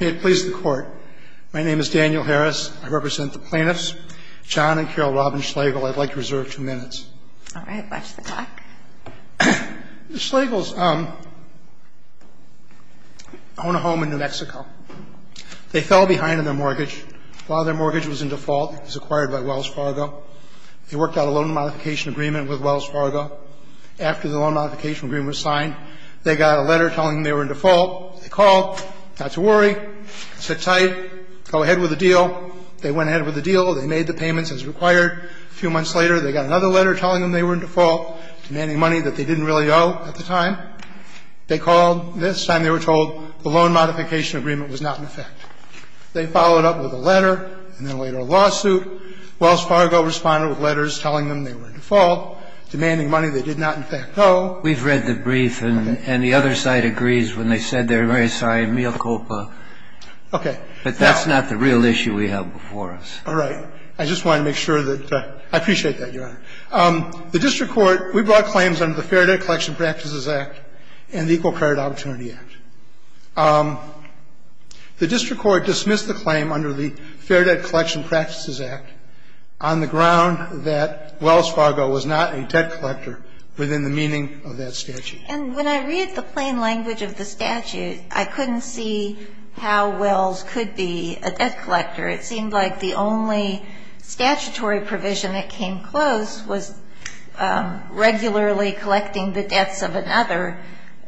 May it please the Court. My name is Daniel Harris. I represent the plaintiffs, John and Carol Robin Schlegel. I'd like to reserve two minutes. All right. Watch the clock. The Schlegels own a home in New Mexico. They fell behind on their mortgage. While their mortgage was in default, it was acquired by Wells Fargo. They worked out a loan modification agreement with Wells Fargo. After the loan modification agreement was signed, they got a letter telling them they were in default. They called, not to worry, sit tight, go ahead with the deal. They went ahead with the deal. They made the payments as required. A few months later, they got another letter telling them they were in default, demanding money that they didn't really owe at the time. They called. This time they were told the loan modification agreement was not in effect. They followed up with a letter and then later a lawsuit. Wells Fargo responded with letters telling them they were in default, demanding money they did not in fact owe. We've read the brief, and the other side agrees when they said they're very sorry, mea culpa. Okay. But that's not the real issue we have before us. All right. I just wanted to make sure that I appreciate that, Your Honor. The district court, we brought claims under the Fair Debt Collection Practices Act and the Equal Credit Opportunity Act. The district court dismissed the claim under the Fair Debt Collection Practices Act on the ground that Wells Fargo was not a debt collector within the meaning of that statute. And when I read the plain language of the statute, I couldn't see how Wells could be a debt collector. It seemed like the only statutory provision that came close was regularly collecting the debts of another,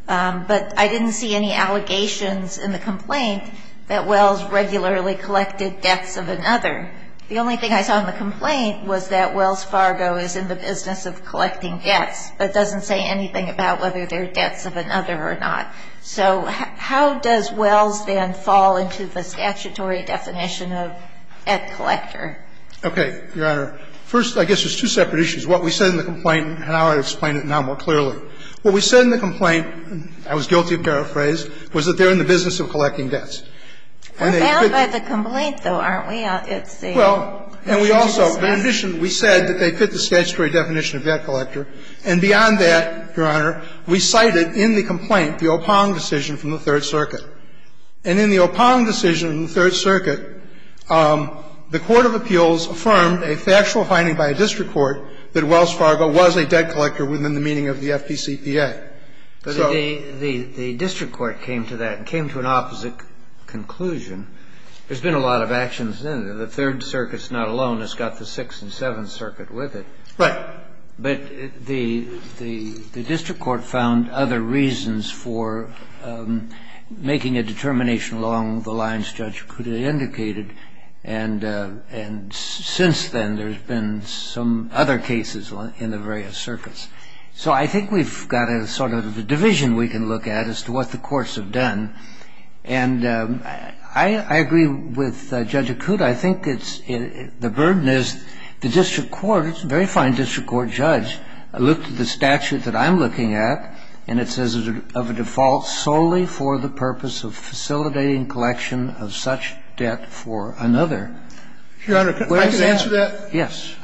but I didn't see any allegations in the complaint that Wells regularly collected debts of another. The only thing I saw in the complaint was that Wells Fargo is in the business of collecting debts, but doesn't say anything about whether they're debts of another or not. So how does Wells then fall into the statutory definition of debt collector? Okay, Your Honor. First, I guess there's two separate issues. What we said in the complaint, and I'll explain it now more clearly. What we said in the complaint, I was guilty of paraphrase, was that they're in the business of collecting debts. We're bound by the complaint, though, aren't we? Well, and we also, in addition, we said that they fit the statutory definition of debt collector. And beyond that, Your Honor, we cited in the complaint the O'Pong decision from the Third Circuit. And in the O'Pong decision from the Third Circuit, the court of appeals affirmed a factual finding by a district court that Wells Fargo was a debt collector within the meaning of the FPCPA. But the district court came to that, came to an opposite conclusion. There's been a lot of actions in it. The Third Circuit's not alone. It's got the Sixth and Seventh Circuit with it. Right. But the district court found other reasons for making a determination along the lines Judge Cuda indicated. And since then, there's been some other cases in the various circuits. So I think we've got a sort of a division we can look at as to what the courts have done. And I agree with Judge Cuda. I think it's the burden is the district court, a very fine district court judge, looked at the statute that I'm looking at, and it says of a default solely for the purpose of facilitating collection of such debt for another. Your Honor, can I just answer that? Yes.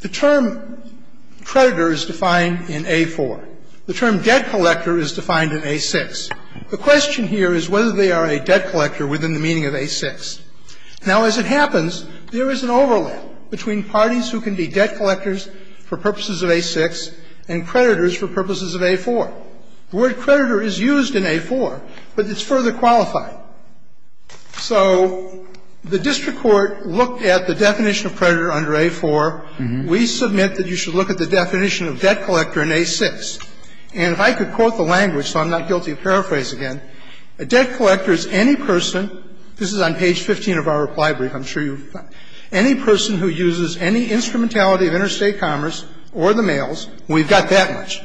The term creditor is defined in A-4. The term debt collector is defined in A-6. The question here is whether they are a debt collector within the meaning of A-6. Now, as it happens, there is an overlap between parties who can be debt collectors for purposes of A-6 and creditors for purposes of A-4. The word creditor is used in A-4, but it's further qualified. So the district court looked at the definition of creditor under A-4. We submit that you should look at the definition of debt collector in A-6. And if I could quote the language so I'm not guilty of paraphrase again, a debt collector is any person, this is on page 15 of our reply brief, I'm sure you've found it, any person who uses any instrumentality of interstate commerce or the mails, we've got that much,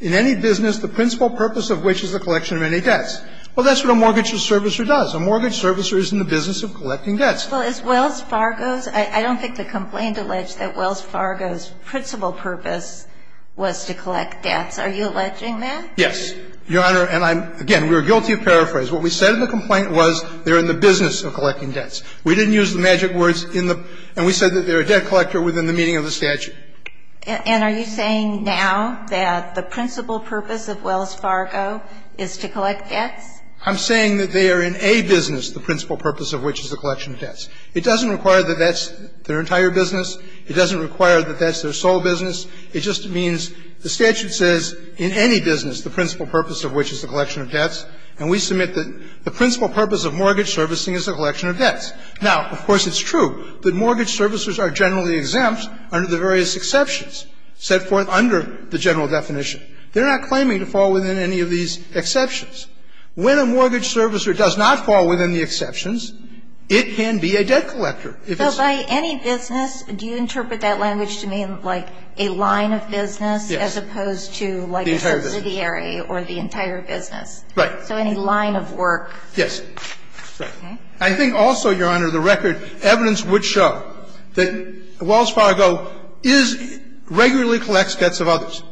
in any business the principal purpose of which is the collection of any debts. Well, that's what a mortgage servicer does. A mortgage servicer is in the business of collecting debts. Well, as Wells Fargo's, I don't think the complaint alleged that Wells Fargo's principal purpose was to collect debts. Are you alleging that? Yes, Your Honor. And I'm, again, we are guilty of paraphrase. What we said in the complaint was they're in the business of collecting debts. We didn't use the magic words in the, and we said that they're a debt collector within the meaning of the statute. And are you saying now that the principal purpose of Wells Fargo is to collect debts? I'm saying that they are in a business, the principal purpose of which is the collection of debts. It doesn't require that that's their entire business. It doesn't require that that's their sole business. It just means the statute says in any business the principal purpose of which is the collection of debts. And we submit that the principal purpose of mortgage servicing is the collection of debts. Now, of course, it's true that mortgage servicers are generally exempt under the various exceptions set forth under the general definition. They're not claiming to fall within any of these exceptions. When a mortgage servicer does not fall within the exceptions, it can be a debt collector. If it's a debt collector. So by any business, do you interpret that language to mean like a line of business as opposed to like a subsidiary or the entire business? The entire business. Right. So any line of work. Yes. Right. I think also, Your Honor, the record evidence would show that Wells Fargo is regularly collects debts of others.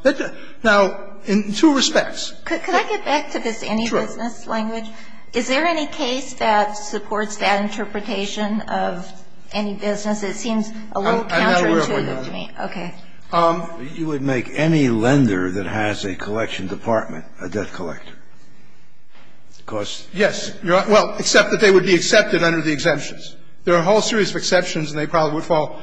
Now, in two respects. Could I get back to this any business language? Is there any case that supports that interpretation of any business? It seems a little counterintuitive to me. Okay. You would make any lender that has a collection department a debt collector? Of course. Yes. Well, except that they would be accepted under the exemptions. There are a whole series of exceptions, and they probably would fall.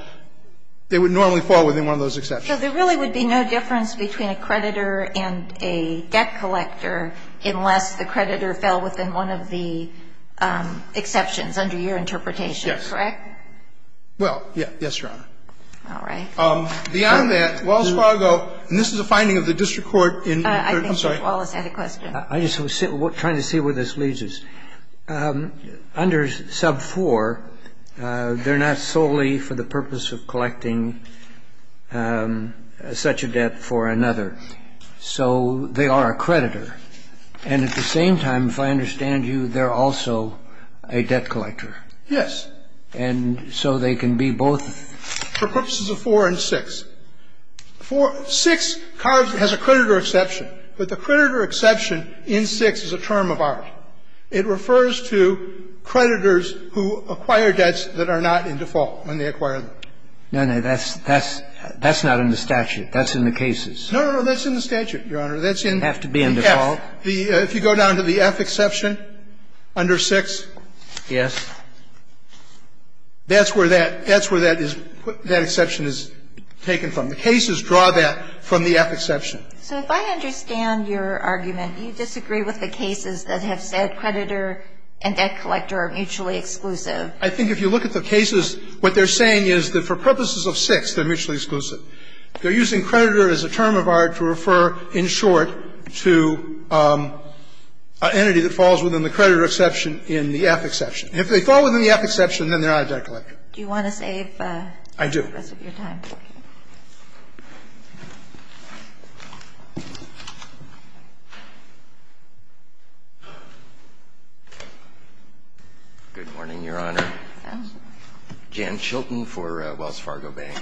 They would normally fall within one of those exceptions. So there really would be no difference between a creditor and a debt collector unless the creditor fell within one of the exceptions under your interpretation. Yes. Correct? Well, yes, Your Honor. All right. Beyond that, Wells Fargo, and this is a finding of the district court. I think Judge Wallace had a question. I'm just trying to see where this leads us. Under sub 4, they're not solely for the purpose of collecting such a debt for another. So they are a creditor. And at the same time, if I understand you, they're also a debt collector. Yes. And so they can be both. For purposes of 4 and 6. 6 has a creditor exception, but the creditor exception in 6 is a term of art. It refers to creditors who acquire debts that are not in default when they acquire them. No, no. That's not in the statute. That's in the cases. No, no, no. That's in the statute, Your Honor. That's in the F. Have to be in default. If you go down to the F exception under 6. Yes. That's where that is, that exception is taken from. The cases draw that from the F exception. So if I understand your argument, you disagree with the cases that have said creditor and debt collector are mutually exclusive. I think if you look at the cases, what they're saying is that for purposes of 6, they're mutually exclusive. They're using creditor as a term of art to refer, in short, to an entity that falls within the creditor exception in the F exception. And if they fall within the F exception, then they're not a debt collector. Do you want to save the rest of your time? I do. Good morning, Your Honor. Jan Chilton for Wells Fargo Bank.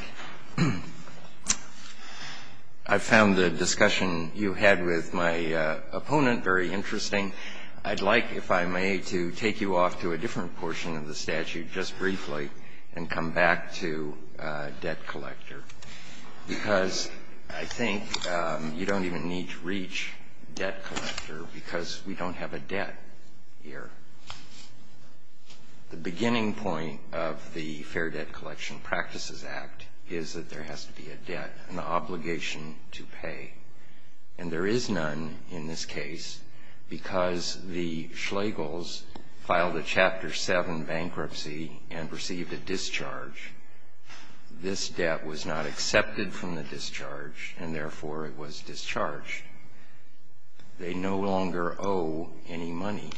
I found the discussion you had with my opponent very interesting. I'd like, if I may, to take you off to a different portion of the statute just briefly and come back to debt collector. Because I think you don't even need to reach debt collector because we don't have a debt here. The beginning point of the Fair Debt Collection Practices Act is that there has to be a debt, an obligation to pay. And there is none in this case because the Schlegels filed a Chapter 7 bankruptcy and received a discharge. This debt was not accepted from the discharge and, therefore, it was discharged. They no longer owe any money.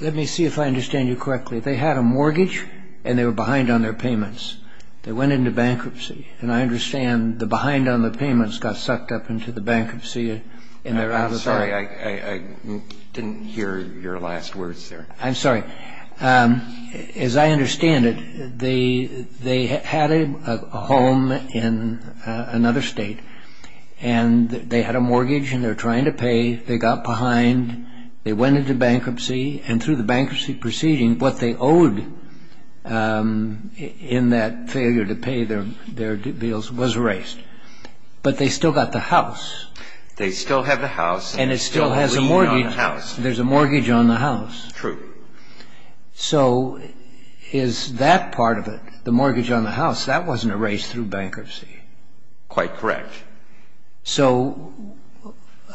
Let me see if I understand you correctly. They had a mortgage and they were behind on their payments. They went into bankruptcy. And I understand the behind on the payments got sucked up into the bankruptcy and they're out of debt. I'm sorry. I didn't hear your last words there. I'm sorry. As I understand it, they had a home in another state and they had a mortgage and they're trying to pay. They got behind. They went into bankruptcy. And through the bankruptcy proceeding, what they owed in that failure to pay their bills was erased. But they still got the house. They still have the house. And it still has a mortgage. There's a mortgage on the house. True. So is that part of it, the mortgage on the house, that wasn't erased through bankruptcy? Quite correct. So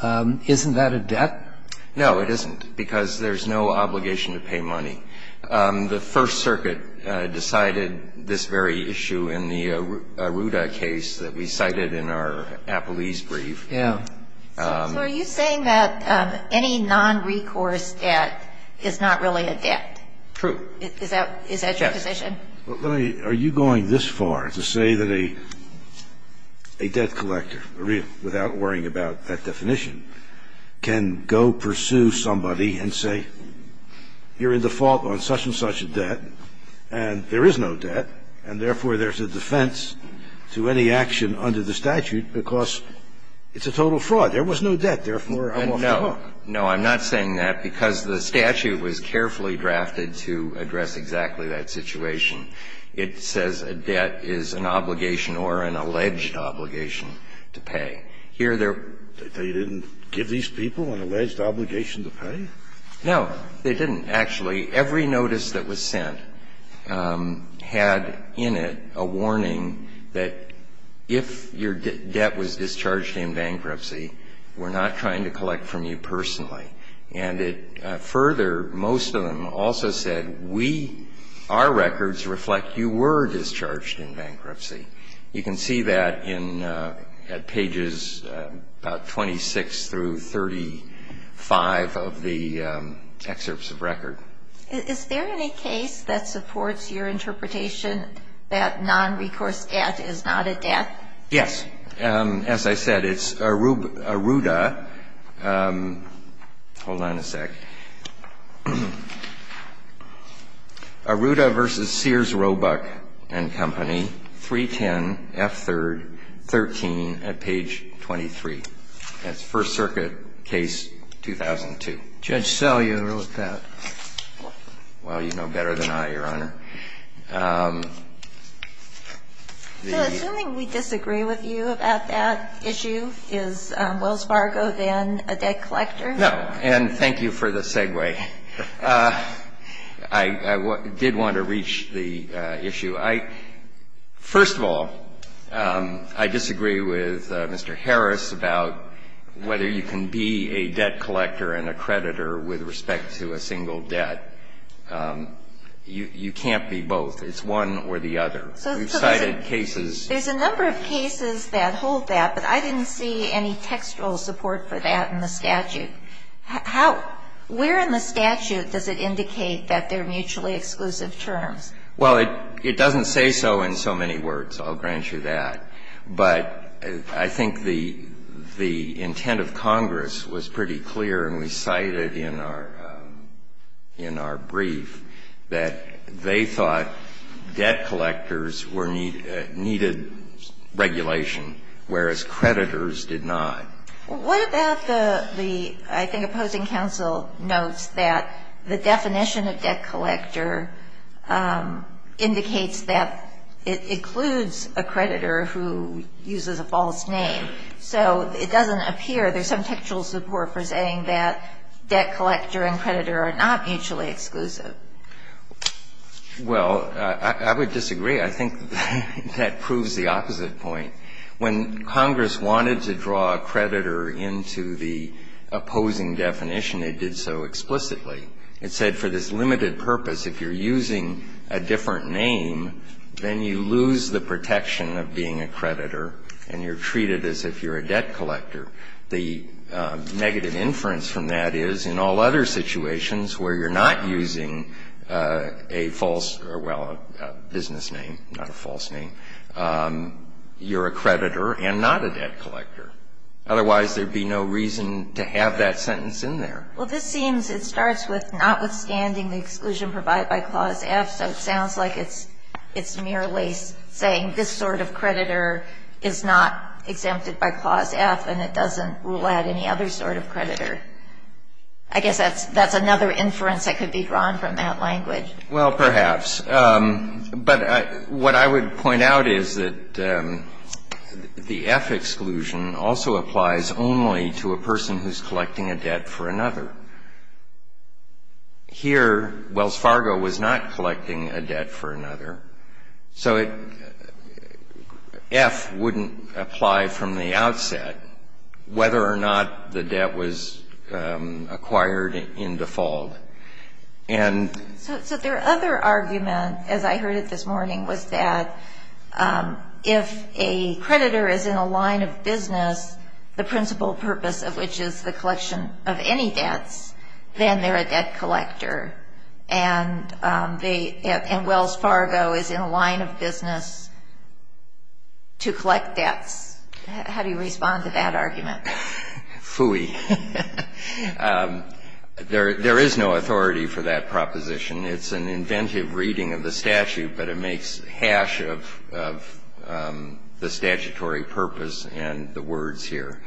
isn't that a debt? No, it isn't, because there's no obligation to pay money. The First Circuit decided this very issue in the Arruda case that we cited in our Appalese brief. Yeah. So are you saying that any nonrecourse debt is not really a debt? True. Is that your position? Yes. Are you going this far to say that a debt collector, without worrying about that definition, can go pursue somebody and say, you're in default on such and such a debt and there is no debt and therefore there's a defense to any action under the statute because it's a total fraud. There was no debt, therefore, I'm off the hook. No. No, I'm not saying that, because the statute was carefully drafted to address exactly that situation. It says a debt is an obligation or an alleged obligation to pay. Here, there are. They didn't give these people an alleged obligation to pay? No, they didn't. Actually, every notice that was sent had in it a warning that if your debt was discharged in bankruptcy, we're not trying to collect from you personally. And it further, most of them also said, we, our records reflect you were discharged in bankruptcy. You can see that in, at pages about 26 through 35 of the excerpts of record. Is there any case that supports your interpretation that nonrecourse debt is not a debt? Yes. As I said, it's Arruda. Hold on a sec. Arruda v. Sears Roebuck and Company, 310 F. 3rd, 13 at page 23. That's First Circuit case 2002. Judge Sell, you ever look at that? Well, you know better than I, Your Honor. So assuming we disagree with you about that issue, is Wells Fargo then a debt collector? No. And thank you for the segue. I did want to reach the issue. I, first of all, I disagree with Mr. Harris about whether you can be a debt collector and a creditor with respect to a single debt. You can't be both. It's one or the other. We've cited cases. There's a number of cases that hold that, but I didn't see any textual support for that in the statute. How, where in the statute does it indicate that they're mutually exclusive terms? Well, it doesn't say so in so many words. I'll grant you that. But I think the intent of Congress was pretty clear, and we cited in our brief, that they thought debt collectors needed regulation, whereas creditors did not. Well, what about the, I think, opposing counsel notes that the definition of debt collector indicates that it includes a creditor who uses a false name. So it doesn't appear. There's some textual support for saying that debt collector and creditor are not mutually exclusive. Well, I would disagree. I think that proves the opposite point. When Congress wanted to draw a creditor into the opposing definition, it did so explicitly. It said for this limited purpose, if you're using a different name, then you lose the protection of being a creditor, and you're treated as if you're a debt collector. The negative inference from that is, in all other situations where you're not using a false or, well, a business name, not a false name, you're a creditor and not a debt collector. Otherwise, there'd be no reason to have that sentence in there. Well, this seems it starts with notwithstanding the exclusion provided by Clause F. So it sounds like it's merely saying this sort of creditor is not exempted by Clause F, and it doesn't rule out any other sort of creditor. I guess that's another inference that could be drawn from that language. Well, perhaps. But what I would point out is that the F exclusion also applies only to a person who's collecting a debt for another. Here, Wells Fargo was not collecting a debt for another. So F wouldn't apply from the outset, whether or not the debt was acquired in default. And So their other argument, as I heard it this morning, was that if a creditor is in a line of business, the principal purpose of which is the collection of any debts, then they're a debt collector. And Wells Fargo is in a line of business to collect debts. How do you respond to that argument? Phooey. There is no authority for that proposition. It's an inventive reading of the statute, but it makes hash of the statutory purpose and the words here.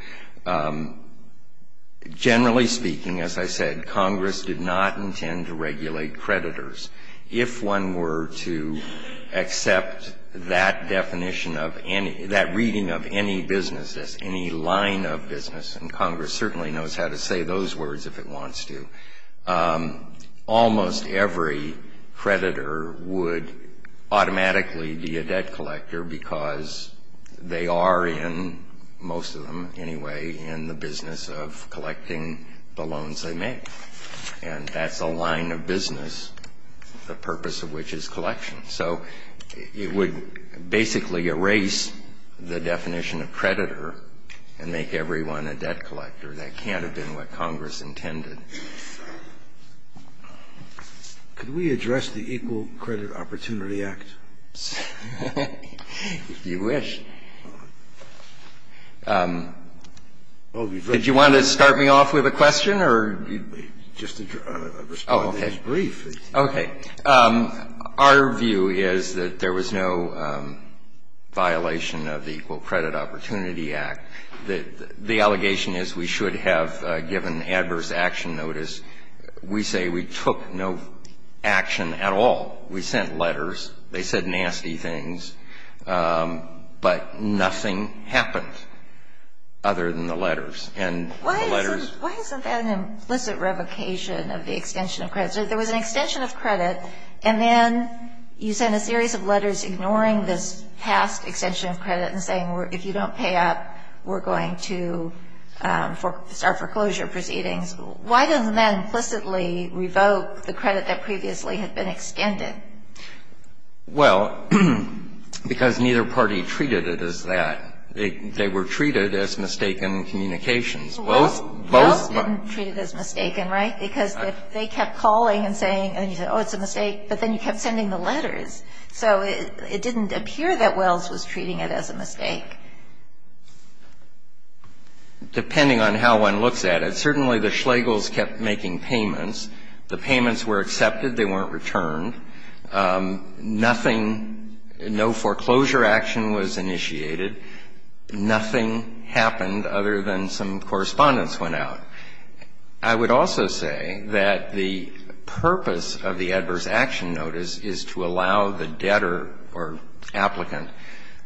Generally speaking, as I said, Congress did not intend to regulate creditors. If one were to accept that definition of any, that reading of any business as any line of business, and Congress certainly knows how to say those words if it wants to, almost every creditor would automatically be a debt collector because they are in, most of them anyway, in the business of collecting the loans they make. And that's a line of business, the purpose of which is collection. So it would basically erase the definition of creditor and make everyone a debt collector. That can't have been what Congress intended. Could we address the Equal Credit Opportunity Act? If you wish. Did you want to start me off with a question or just respond to this brief? Okay. Our view is that there was no violation of the Equal Credit Opportunity Act. The allegation is we should have given adverse action notice. We say we took no action at all. We sent letters. They said nasty things. But nothing happened other than the letters. And the letters ---- Why isn't that an implicit revocation of the extension of credit? There was an extension of credit, and then you sent a series of letters ignoring this past extension of credit and saying if you don't pay up, we're going to start foreclosure proceedings. Why doesn't that implicitly revoke the credit that previously had been extended? Well, because neither party treated it as that. They were treated as mistaken communications. Well, both were treated as mistaken, right? Because they kept calling and saying, oh, it's a mistake. But then you kept sending the letters. So it didn't appear that Wells was treating it as a mistake. Depending on how one looks at it, certainly the Schlegels kept making payments. The payments were accepted. They weren't returned. Nothing ---- no foreclosure action was initiated. Nothing happened other than some correspondence went out. I would also say that the purpose of the adverse action notice is to allow the debtor or applicant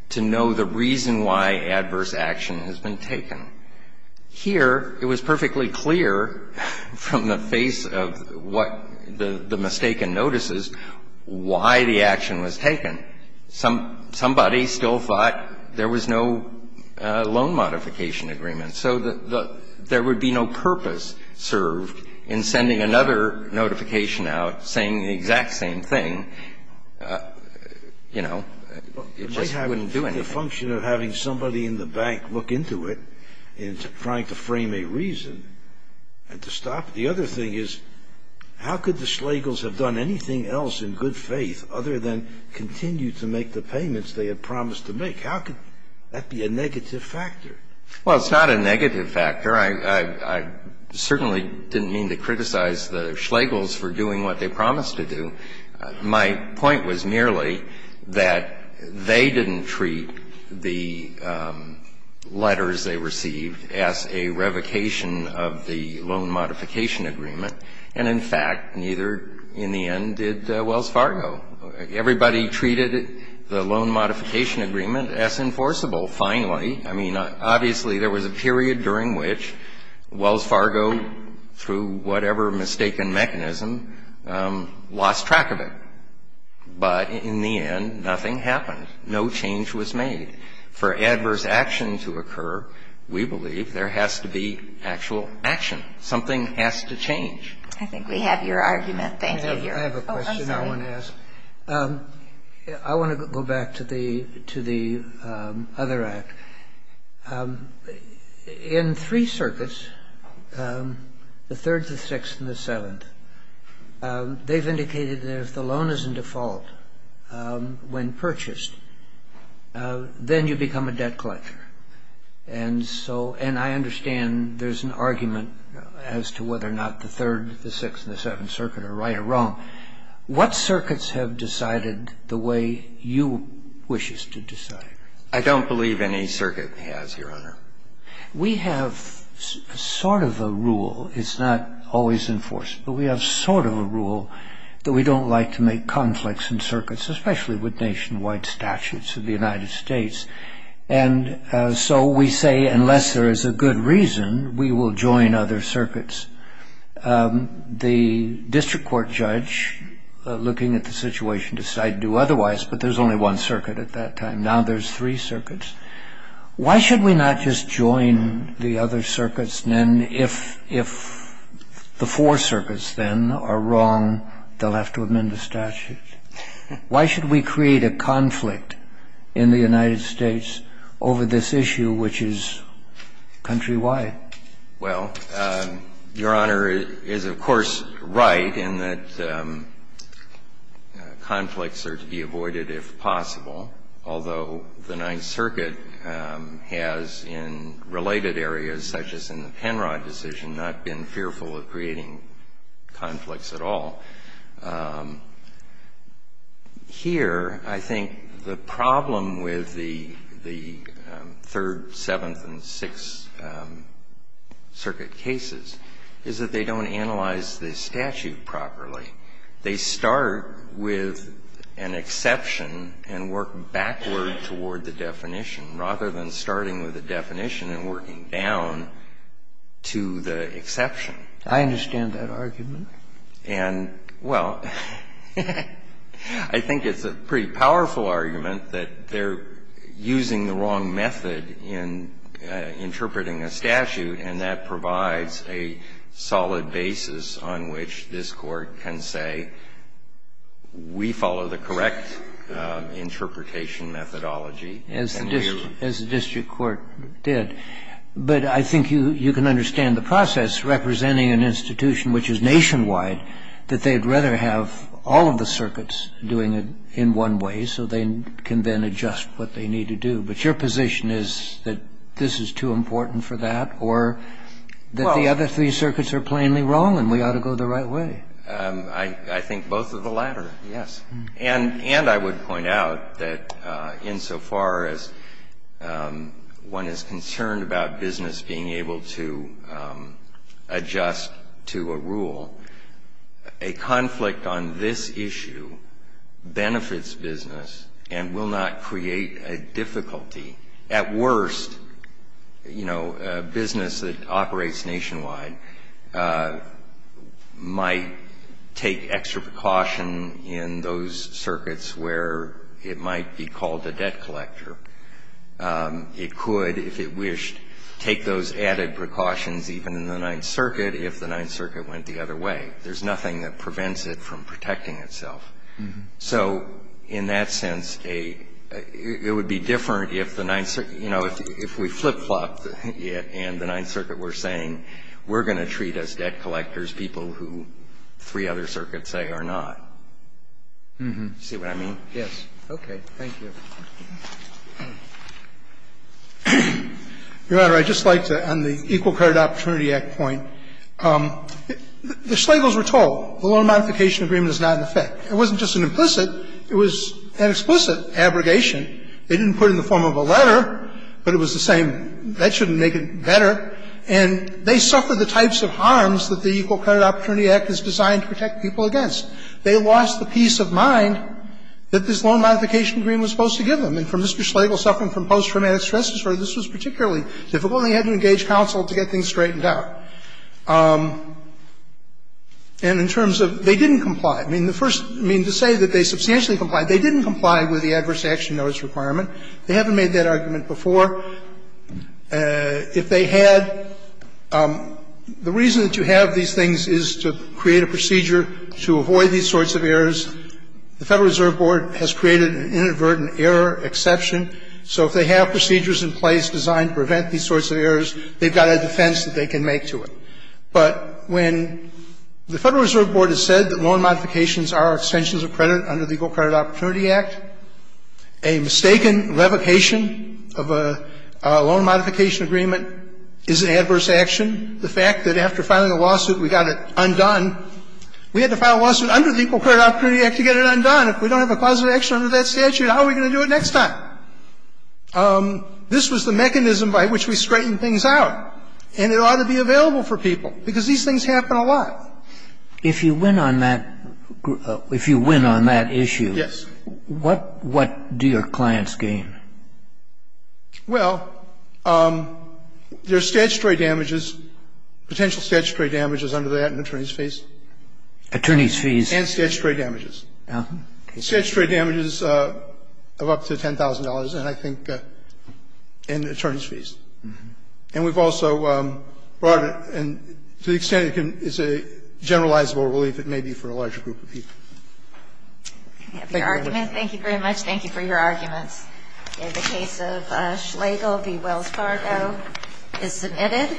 to know the reason why adverse action has been taken. Here, it was perfectly clear from the face of what the mistaken notices why the action was taken. Somebody still thought there was no loan modification agreement. So there would be no purpose served in sending another notification out saying the exact same thing. You know, it just wouldn't do anything. It might have been a function of having somebody in the bank look into it and trying to frame a reason and to stop it. The other thing is, how could the Schlegels have done anything else in good faith other than continue to make the payments they had promised to make? How could that be a negative factor? Well, it's not a negative factor. I certainly didn't mean to criticize the Schlegels for doing what they promised to do. My point was merely that they didn't treat the letters they received as a revocation of the loan modification agreement. And, in fact, neither, in the end, did Wells Fargo. Everybody treated the loan modification agreement as enforceable. Finally, I mean, obviously, there was a period during which Wells Fargo, through whatever mistaken mechanism, lost track of it. But, in the end, nothing happened. No change was made. For adverse action to occur, we believe there has to be actual action. Something has to change. I think we have your argument. Thank you. I have a question I want to ask. I want to go back to the other act. In three circuits, the Third, the Sixth, and the Seventh, they've indicated that if the loan is in default when purchased, then you become a debt collector. And I understand there's an argument as to whether or not the Third, the Sixth, and the Seventh Circuit are right or wrong. What circuits have decided the way you wish us to decide? I don't believe any circuit has, Your Honor. We have sort of a rule. It's not always enforceable. We have sort of a rule that we don't like to make conflicts in circuits, especially with nationwide statutes of the United States. And so we say, unless there is a good reason, we will join other circuits. The district court judge, looking at the situation, decided to do otherwise, but there's only one circuit at that time. Now there's three circuits. Why should we not just join the other circuits? And if the four circuits, then, are wrong, they'll have to amend the statute. Why should we create a conflict in the United States over this issue, which is countrywide? Well, Your Honor is, of course, right in that conflicts are to be avoided if possible, although the Ninth Circuit has, in related areas such as in the Penrod decision, not been fearful of creating conflicts at all. Here, I think the problem with the Third, Seventh, and Sixth Circuits is that they're not going to be able to make a conflict in the United States over this issue. And the problem with the Ninth Circuit cases is that they don't analyze the statute properly. They start with an exception and work backward toward the definition, rather than starting with a definition and working down to the exception. I understand that argument. And, well, I think it's a pretty powerful argument that they're using the wrong method in interpreting a statute, and that provides a solid basis on which this Court can say, we follow the correct interpretation methodology. As the district court did. But I think you can understand the process, representing an institution which is nationwide, that they'd rather have all of the circuits doing it in one way, so they can then adjust what they need to do. But your position is that this is too important for that? Or that the other three circuits are plainly wrong and we ought to go the right way? I think both of the latter, yes. And I would point out that insofar as one is concerned about business being able to adjust to a rule, a conflict on this issue benefits business and will not create a difficulty. At worst, you know, a business that operates nationwide might take extra precaution in those circuits where it might be called a debt collector. It could, if it wished, take those added precautions even in the Ninth Circuit if the Ninth Circuit went the other way. There's nothing that prevents it from protecting itself. So in that sense, it would be different if the Ninth Circuit, you know, if we flip-flopped it and the Ninth Circuit were saying, we're going to treat as debt collectors people who three other circuits say are not. Do you see what I mean? Yes. Okay. Thank you. Your Honor, I'd just like to, on the Equal Credit Opportunity Act point, the Schlegels were told the loan modification agreement is not in effect. It wasn't just an implicit, it was an explicit abrogation. They didn't put it in the form of a letter, but it was the same, that shouldn't make it better. And they suffered the types of harms that the Equal Credit Opportunity Act is designed to protect people against. They lost the peace of mind that this loan modification agreement was supposed to give them. And for Mr. Schlegel suffering from post-traumatic stress disorder, this was particularly difficult, and he had to engage counsel to get things straightened out. And in terms of they didn't comply, I mean, the first, I mean, to say that they substantially complied, they didn't comply with the adverse action notice requirement. They haven't made that argument before. If they had, the reason that you have these things is to create a procedure to avoid these sorts of errors. The Federal Reserve Board has created an inadvertent error exception. So if they have procedures in place designed to prevent these sorts of errors, they've got a defense that they can make to it. But when the Federal Reserve Board has said that loan modifications are extensions of credit under the Equal Credit Opportunity Act, a mistaken revocation of a loan modification agreement is an adverse action. The fact that after filing a lawsuit, we got it undone, we had to file a lawsuit under the Equal Credit Opportunity Act to get it undone. If we don't have a positive action under that statute, how are we going to do it next time? This was the mechanism by which we straightened things out. And it ought to be available for people, because these things happen a lot. If you win on that, if you win on that issue, what do your clients gain? Well, there's statutory damages, potential statutory damages under that and attorneys' fees. Attorneys' fees. And statutory damages. Statutory damages of up to $10,000, and I think in attorneys' fees. And we've also brought it to the extent it's a generalizable relief, it may be for a larger group of people. Thank you very much. Thank you very much. Thank you for your arguments. The case of Schlegel v. Wells Fargo is submitted.